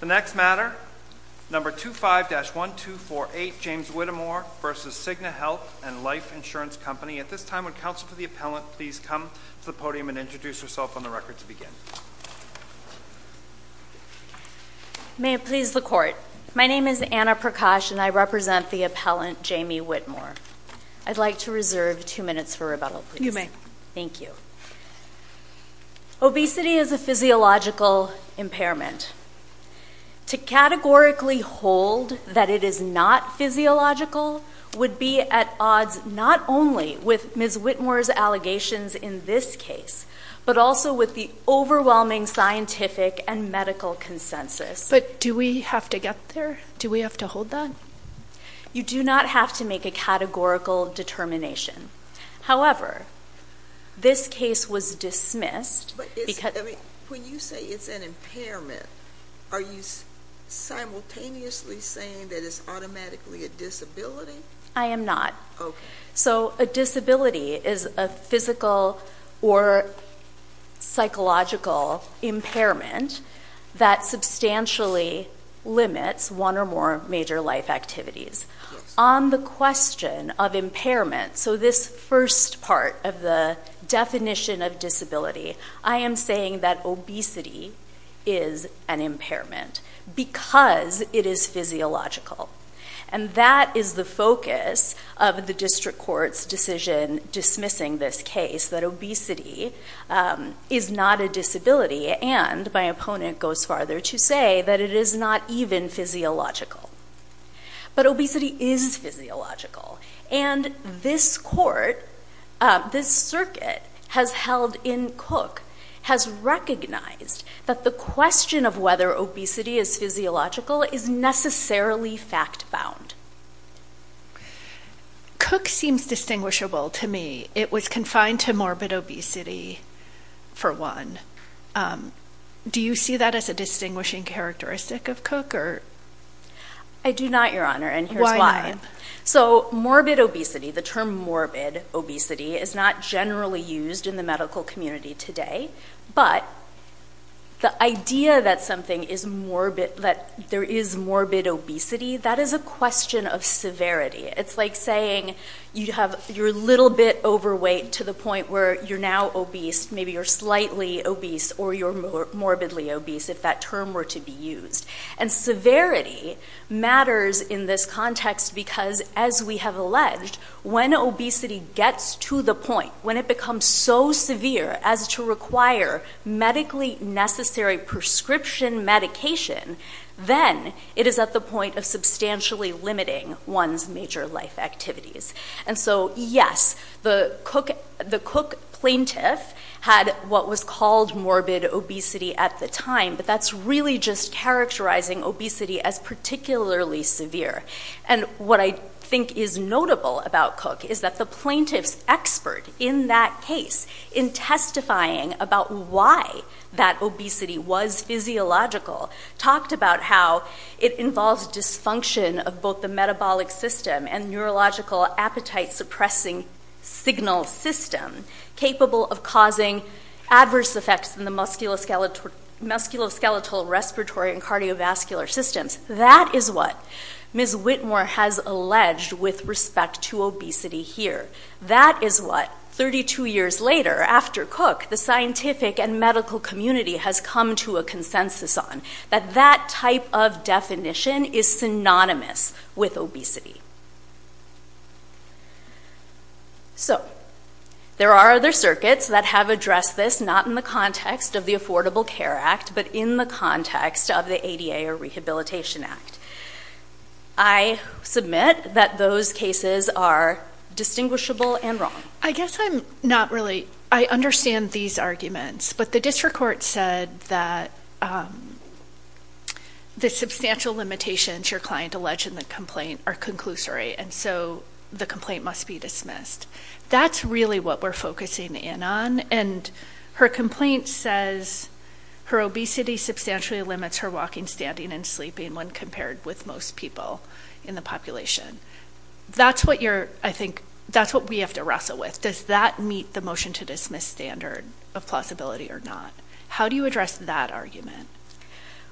The next matter, number 25-1248, James Whittemore v. Cigna Health and Life Insurance Company. At this time, would counsel for the appellant please come to the podium and introduce herself on the record to begin? May it please the court. My name is Anna Prakash and I represent the appellant, Jamie Whitmore. I'd like to reserve two minutes for rebuttal, please. You may. Thank you. Obesity is a physiological impairment. To categorically hold that it is not physiological would be at odds not only with Ms. Whitmore's allegations in this case, but also with the overwhelming scientific and medical consensus. But do we have to get there? Do we have to hold that? You do not have to make a categorical determination. However, this case was dismissed because- When you say it's an impairment, are you simultaneously saying that it's automatically a disability? I am not. Okay. So a disability is a physical or psychological impairment that substantially limits one or more major life activities. On the question of impairment, so this first part of the definition of disability, I am saying that obesity is an impairment because it is physiological. And that is the focus of the district court's decision dismissing this case, that obesity is not a disability, and my opponent goes farther to say that it is not even physiological. But obesity is physiological. And this court, this circuit has held in Cook, has recognized that the question of whether obesity is physiological is necessarily fact-bound. Cook seems distinguishable to me. It was confined to morbid obesity for one. Do you see that as a distinguishing characteristic of Cook? I do not, Your Honor, and here's why. So morbid obesity, the term morbid obesity, is not generally used in the medical community today. But the idea that something is morbid, that there is morbid obesity, that is a question of severity. It's like saying you're a little bit overweight to the point where you're now obese. Maybe you're slightly obese or you're morbidly obese, if that term were to be used. And severity matters in this context because, as we have alleged, when obesity gets to the point, when it becomes so severe as to require medically necessary prescription medication, then it is at the point of substantially limiting one's major life activities. And so, yes, the Cook plaintiff had what was called morbid obesity at the time, but that's really just characterizing obesity as particularly severe. And what I think is notable about Cook is that the plaintiff's expert in that case, in testifying about why that obesity was physiological, talked about how it involves dysfunction of both the metabolic system and neurological appetite-suppressing signal system, capable of causing adverse effects in the musculoskeletal, respiratory, and cardiovascular systems. That is what Ms. Whitmore has alleged with respect to obesity here. That is what, 32 years later, after Cook, the scientific and medical community has come to a consensus on, that that type of definition is synonymous with obesity. So, there are other circuits that have addressed this, not in the context of the Affordable Care Act, but in the context of the ADA or Rehabilitation Act. I submit that those cases are distinguishable and wrong. I guess I'm not really, I understand these arguments, but the district court said that the substantial limitations your client alleged in the complaint are conclusory, and so the complaint must be dismissed. That's really what we're focusing in on, and her complaint says, her obesity substantially limits her walking, standing, and sleeping when compared with most people in the population. That's what you're, I think, that's what we have to wrestle with. Does that meet the motion-to-dismiss standard of plausibility or not? How do you address that argument?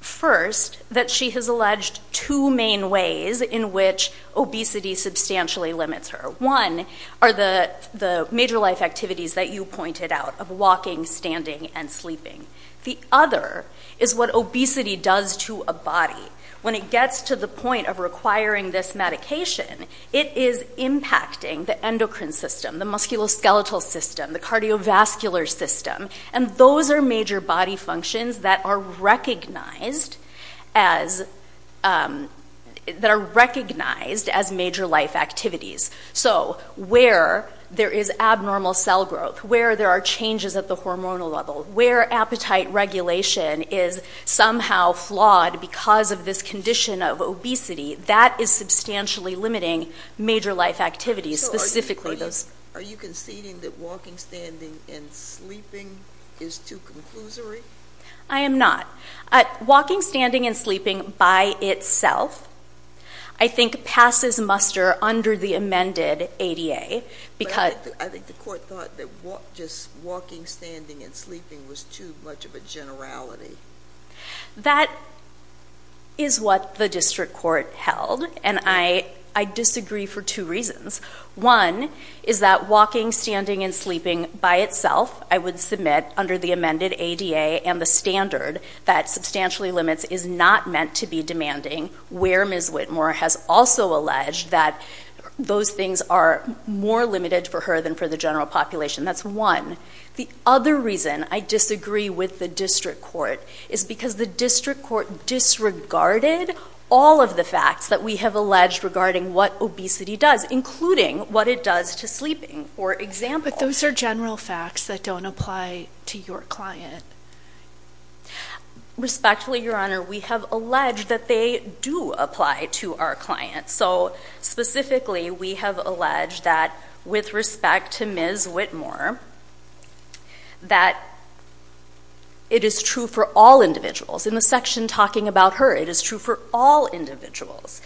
First, that she has alleged two main ways in which obesity substantially limits her. One are the major life activities that you pointed out, of walking, standing, and sleeping. The other is what obesity does to a body. When it gets to the point of requiring this medication, it is impacting the endocrine system, the musculoskeletal system, the cardiovascular system, and those are major body functions that are recognized as major life activities. So where there is abnormal cell growth, where there are changes at the hormonal level, where appetite regulation is somehow flawed because of this condition of obesity, that is substantially limiting major life activities, specifically those. Are you conceding that walking, standing, and sleeping is too conclusory? I am not. Walking, standing, and sleeping by itself, I think, passes muster under the amended ADA. I think the court thought that just walking, standing, and sleeping was too much of a generality. That is what the district court held, and I disagree for two reasons. One is that walking, standing, and sleeping by itself, I would submit, under the amended ADA and the standard that substantially limits is not meant to be demanding, where Ms. Whitmore has also alleged that those things are more limited for her than for the general population. That's one. The other reason I disagree with the district court is because the district court disregarded all of the facts that we have alleged regarding what obesity does, including what it does to sleeping, for example. But those are general facts that don't apply to your client. Respectfully, Your Honor, we have alleged that they do apply to our client. So specifically, we have alleged that, with respect to Ms. Whitmore, that it is true for all individuals. In the section talking about her, it is true for all individuals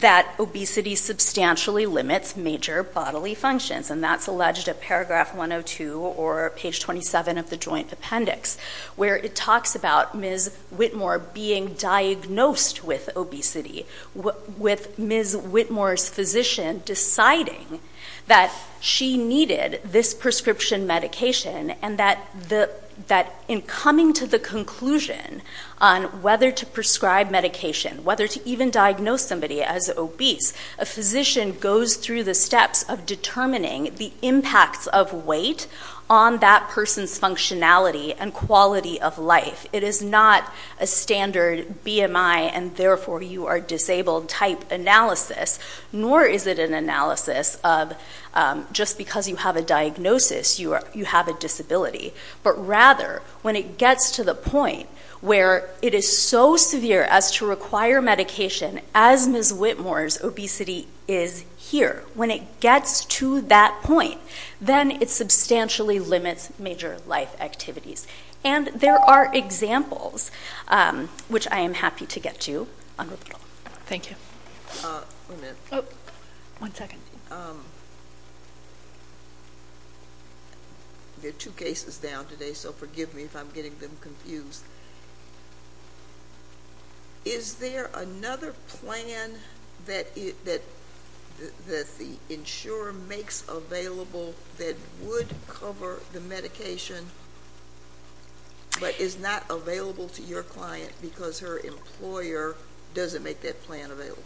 that obesity substantially limits major bodily functions, and that's alleged at paragraph 102 or page 27 of the joint appendix, where it talks about Ms. Whitmore being diagnosed with obesity, with Ms. Whitmore's physician deciding that she needed this prescription medication, and that in coming to the conclusion on whether to prescribe medication, whether to even diagnose somebody as obese, a physician goes through the steps of determining the impacts of weight on that person's functionality and quality of life. It is not a standard BMI and therefore you are disabled type analysis, nor is it an analysis of just because you have a diagnosis, you have a disability. But rather, when it gets to the point where it is so severe as to require medication, as Ms. Whitmore's obesity is here, when it gets to that point, then it substantially limits major life activities. And there are examples, which I am happy to get to. Thank you. One minute. One second. There are two cases down today, so forgive me if I'm getting them confused. Is there another plan that the insurer makes available that would cover the medication but is not available to your client because her employer doesn't make that plan available?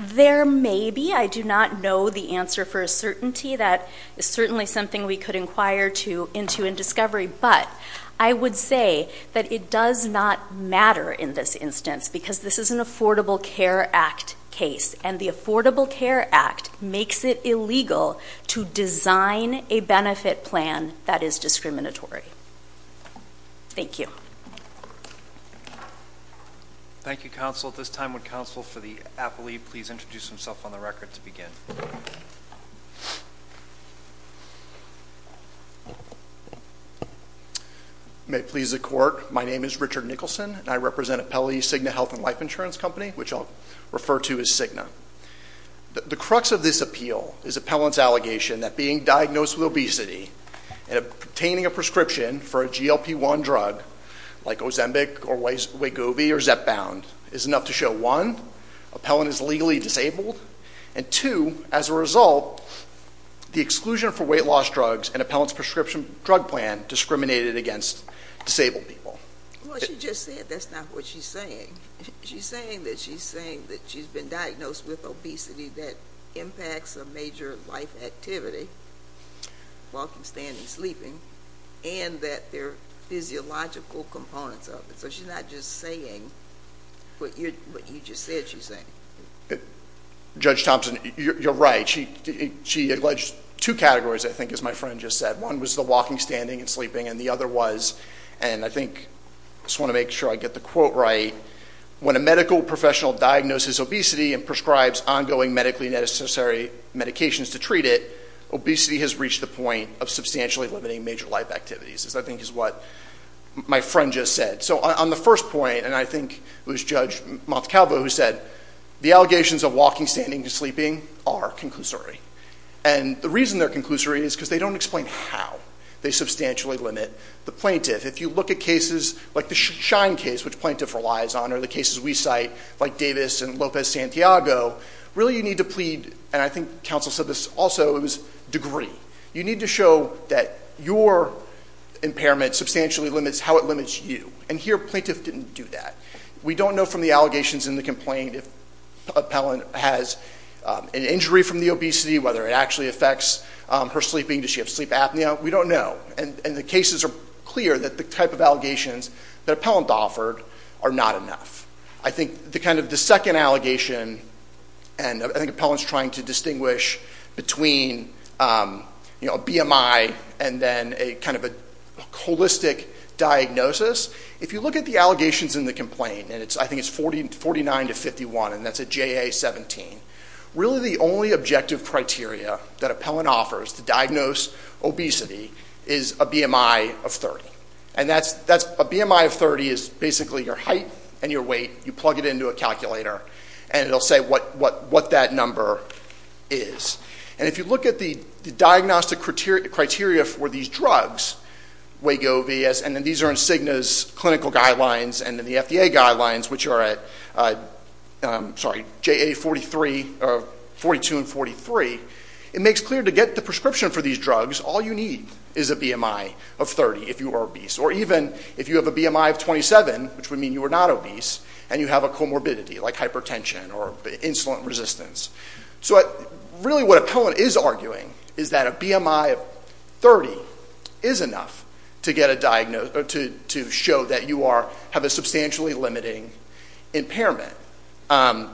There may be. I do not know the answer for certainty. That is certainly something we could inquire into in discovery. But I would say that it does not matter in this instance because this is an Affordable Care Act case, and the Affordable Care Act makes it illegal to design a benefit plan that is discriminatory. Thank you. Thank you, counsel. At this time, would counsel for the appellee please introduce himself on the record to begin? May it please the court, my name is Richard Nicholson, and I represent Appellee Cigna Health and Life Insurance Company, which I'll refer to as Cigna. The crux of this appeal is appellant's allegation that being diagnosed with obesity and obtaining a prescription for a GLP-1 drug like Ozembic or Wegovy or ZepBound is enough to show, one, appellant is legally disabled, and two, as a result, the exclusion for weight loss drugs and appellant's prescription drug plan discriminated against disabled people. Well, she just said that's not what she's saying. She's saying that she's been diagnosed with obesity that impacts a major life activity, walking, standing, sleeping, and that there are physiological components of it. So she's not just saying what you just said she's saying. Judge Thompson, you're right. She alleged two categories, I think, as my friend just said. One was the walking, standing, and sleeping, and the other was, and I think I just want to make sure I get the quote right, when a medical professional diagnoses obesity and prescribes ongoing medically necessary medications to treat it, obesity has reached the point of substantially limiting major life activities, as I think is what my friend just said. So on the first point, and I think it was Judge Montecalvo who said, the allegations of walking, standing, and sleeping are conclusory. And the reason they're conclusory is because they don't explain how they substantially limit the plaintiff. If you look at cases like the Shine case, which plaintiff relies on, or the cases we cite, like Davis and Lopez-Santiago, really you need to plead, and I think counsel said this also, it was degree. You need to show that your impairment substantially limits how it limits you. And here plaintiff didn't do that. We don't know from the allegations in the complaint if Appellant has an injury from the obesity, whether it actually affects her sleeping, does she have sleep apnea, we don't know. And the cases are clear that the type of allegations that Appellant offered are not enough. I think the second allegation, and I think Appellant's trying to distinguish between a BMI and then a holistic diagnosis, if you look at the allegations in the complaint, and I think it's 49 to 51, and that's a JA-17, really the only objective criteria that Appellant offers to diagnose obesity is a BMI of 30. And a BMI of 30 is basically your height and your weight, you plug it into a calculator, and it will say what that number is. And if you look at the diagnostic criteria for these drugs, and then these are in Cigna's clinical guidelines and in the FDA guidelines, which are at JA-42 and 43, it makes clear to get the prescription for these drugs, all you need is a BMI of 30 if you are obese. Or even if you have a BMI of 27, which would mean you are not obese, and you have a comorbidity like hypertension or insulin resistance. So really what Appellant is arguing is that a BMI of 30 is enough to show that you have a substantially limiting impairment. Well,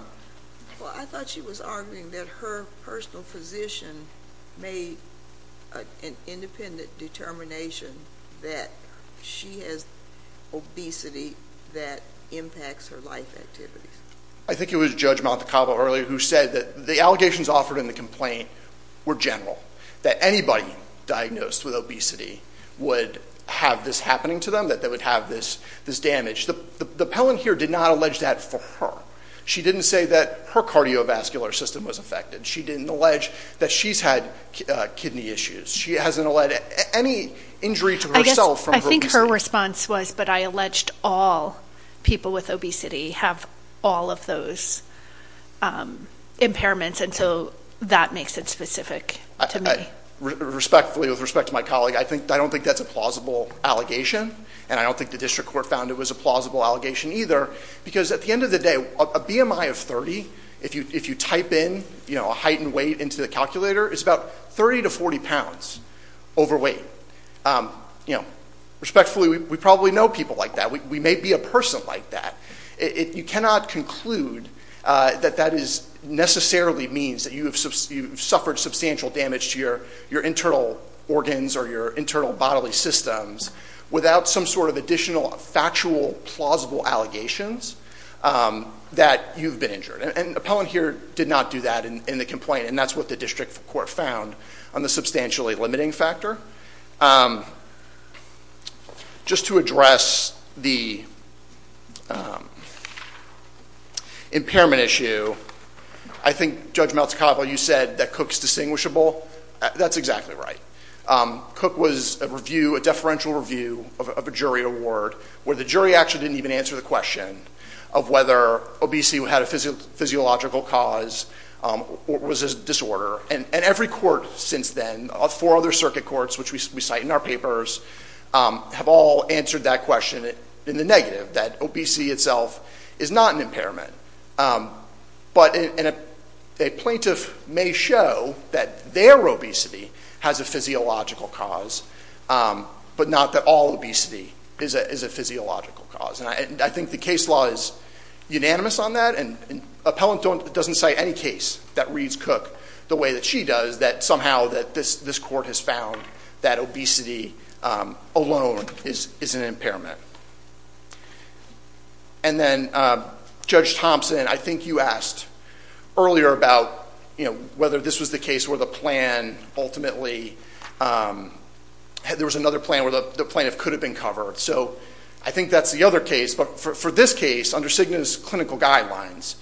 I thought she was arguing that her personal physician made an independent determination that she has obesity that impacts her life activities. I think it was Judge Maldacavo earlier who said that the allegations offered in the complaint were general, that anybody diagnosed with obesity would have this happening to them, that they would have this damage. The Appellant here did not allege that for her. She didn't say that her cardiovascular system was affected. She didn't allege that she's had kidney issues. She hasn't alleged any injury to herself from her obesity. I think her response was, but I alleged all people with obesity have all of those impairments, and so that makes it specific to me. Respectfully, with respect to my colleague, I don't think that's a plausible allegation, and I don't think the district court found it was a plausible allegation either, because at the end of the day, a BMI of 30, if you type in a heightened weight into the calculator, is about 30 to 40 pounds overweight. Respectfully, we probably know people like that. We may be a person like that. You cannot conclude that that necessarily means that you have suffered substantial damage to your internal organs or your internal bodily systems without some sort of additional factual, plausible allegations that you've been injured. And Appellant here did not do that in the complaint, and that's what the district court found on the substantially limiting factor. Just to address the impairment issue, I think, Judge Maltecalpo, you said that Cook's distinguishable. That's exactly right. Cook was a deferential review of a jury award where the jury actually didn't even answer the question of whether obesity had a physiological cause or was a disorder. And every court since then, four other circuit courts, which we cite in our papers, have all answered that question in the negative, that obesity itself is not an impairment. But a plaintiff may show that their obesity has a physiological cause, but not that all obesity is a physiological cause. And I think the case law is unanimous on that, and Appellant doesn't cite any case that reads Cook the way that she does, that somehow this court has found that obesity alone is an impairment. And then, Judge Thompson, I think you asked earlier about whether this was the case where the plan ultimately – there was another plan where the plaintiff could have been covered. So I think that's the other case. But for this case, under Cigna's clinical guidelines,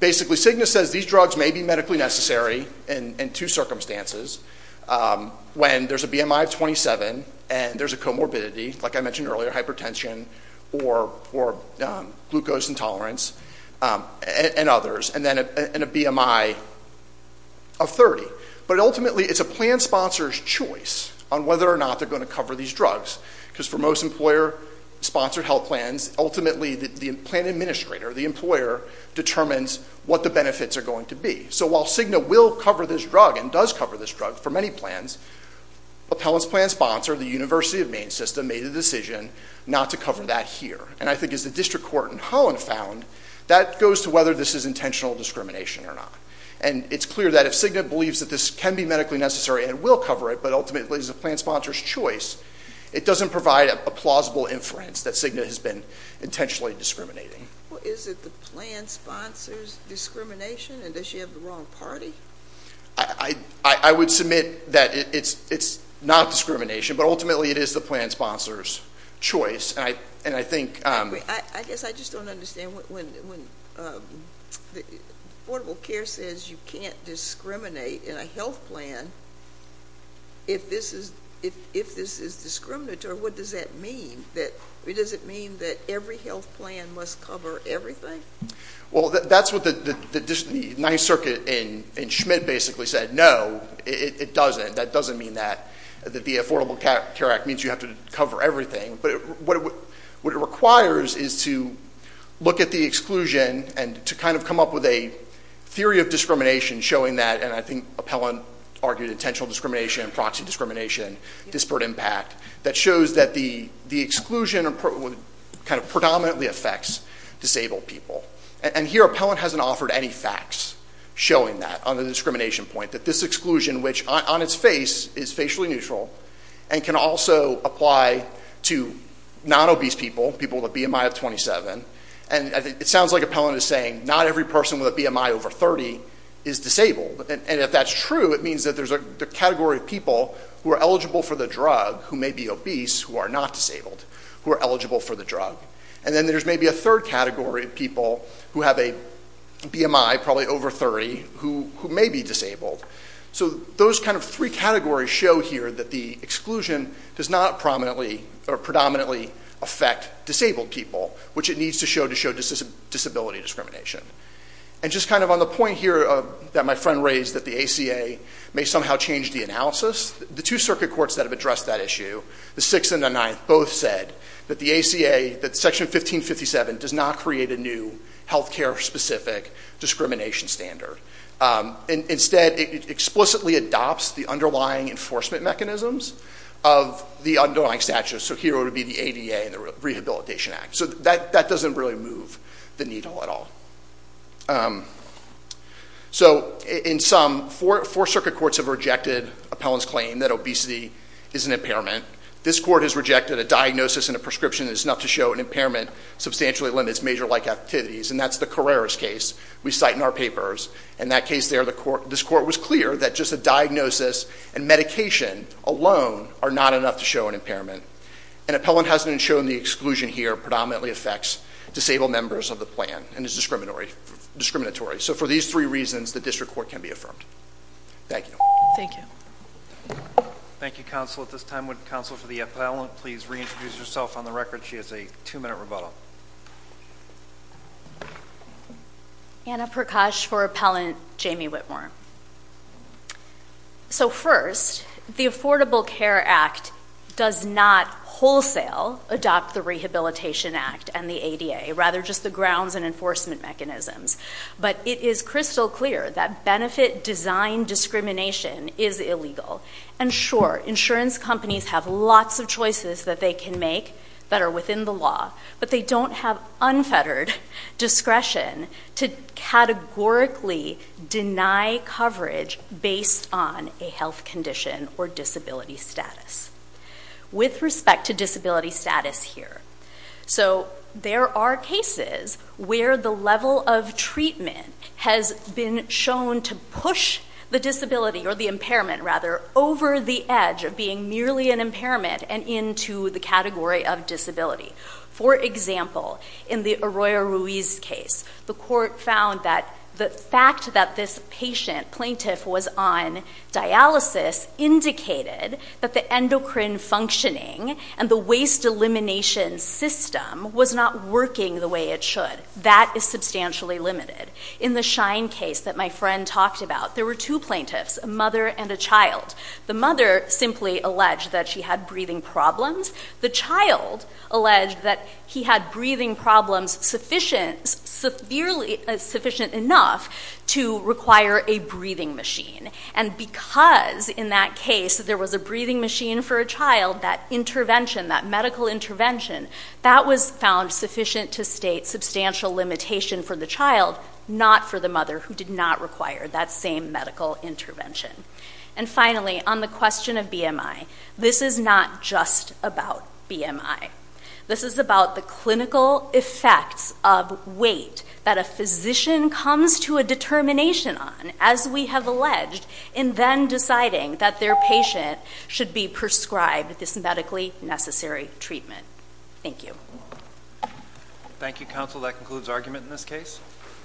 basically Cigna says these drugs may be medically necessary in two circumstances, when there's a BMI of 27 and there's a comorbidity, like I mentioned earlier, hypertension or glucose intolerance, and others, and a BMI of 30. But ultimately, it's a plan sponsor's choice on whether or not they're going to cover these drugs, because for most employer-sponsored health plans, ultimately the plan administrator, the employer, determines what the benefits are going to be. So while Cigna will cover this drug and does cover this drug for many plans, Appellant's plan sponsor, the University of Maine system, made a decision not to cover that here. And I think as the district court in Holland found, that goes to whether this is intentional discrimination or not. And it's clear that if Cigna believes that this can be medically necessary and will cover it, but ultimately it's a plan sponsor's choice, it doesn't provide a plausible inference that Cigna has been intentionally discriminating. Well, is it the plan sponsor's discrimination, and does she have the wrong party? I would submit that it's not discrimination, but ultimately it is the plan sponsor's choice. I guess I just don't understand when Affordable Care says you can't discriminate in a health plan if this is discriminatory, what does that mean? Does it mean that every health plan must cover everything? Well, that's what the Ninth Circuit in Schmidt basically said, no, it doesn't. That doesn't mean that the Affordable Care Act means you have to cover everything. But what it requires is to look at the exclusion and to kind of come up with a theory of discrimination showing that, and I think Appellant argued intentional discrimination and proxy discrimination, disparate impact, that shows that the exclusion kind of predominantly affects disabled people. And here Appellant hasn't offered any facts showing that on the discrimination point, that this exclusion, which on its face is facially neutral, and can also apply to non-obese people, people with a BMI of 27, and it sounds like Appellant is saying not every person with a BMI over 30 is disabled. And if that's true, it means that there's a category of people who are eligible for the drug, who may be obese, who are not disabled, who are eligible for the drug. And then there's maybe a third category of people who have a BMI, probably over 30, who may be disabled. So those kind of three categories show here that the exclusion does not predominantly affect disabled people, which it needs to show to show disability discrimination. And just kind of on the point here that my friend raised, that the ACA may somehow change the analysis, the two circuit courts that have addressed that issue, the Sixth and the Ninth, both said that the ACA, that Section 1557 does not create a new healthcare-specific discrimination standard. Instead, it explicitly adopts the underlying enforcement mechanisms of the underlying statute. So here would be the ADA and the Rehabilitation Act. So that doesn't really move the needle at all. So in sum, four circuit courts have rejected Appellant's claim that obesity is an impairment. This court has rejected a diagnosis and a prescription that is enough to show an impairment substantially limits major-like activities. And that's the Carreras case we cite in our papers. In that case there, this court was clear that just a diagnosis and medication alone are not enough to show an impairment. And Appellant hasn't shown the exclusion here predominantly affects disabled members of the plan and is discriminatory. So for these three reasons, the district court can be affirmed. Thank you. Thank you. Thank you, Counsel. At this time, would Counsel for the Appellant please reintroduce herself on the record? She has a two-minute rebuttal. Anna Prakash for Appellant Jamie Whitmore. So first, the Affordable Care Act does not wholesale adopt the Rehabilitation Act and the ADA. Rather just the grounds and enforcement mechanisms. But it is crystal clear that benefit design discrimination is illegal. And sure, insurance companies have lots of choices that they can make that are within the law. But they don't have unfettered discretion to categorically deny coverage based on a health condition or disability status. With respect to disability status here. So there are cases where the level of treatment has been shown to push the disability or the impairment rather over the edge of being merely an impairment and into the category of disability. For example, in the Arroyo Ruiz case, the court found that the fact that this patient, plaintiff, was on dialysis indicated that the endocrine functioning and the waste elimination system was not working the way it should. That is substantially limited. In the Shine case that my friend talked about, there were two plaintiffs, a mother and a child. The mother simply alleged that she had breathing problems. The child alleged that he had breathing problems sufficient enough to require a breathing machine. And because in that case there was a breathing machine for a child, that intervention, that medical intervention, that was found sufficient to state substantial limitation for the child, not for the mother who did not require that same medical intervention. And finally, on the question of BMI, this is not just about BMI. This is about the clinical effects of weight that a physician comes to a determination on, as we have alleged, in then deciding that their patient should be prescribed this medically necessary treatment. Thank you. Thank you, counsel. That concludes argument in this case.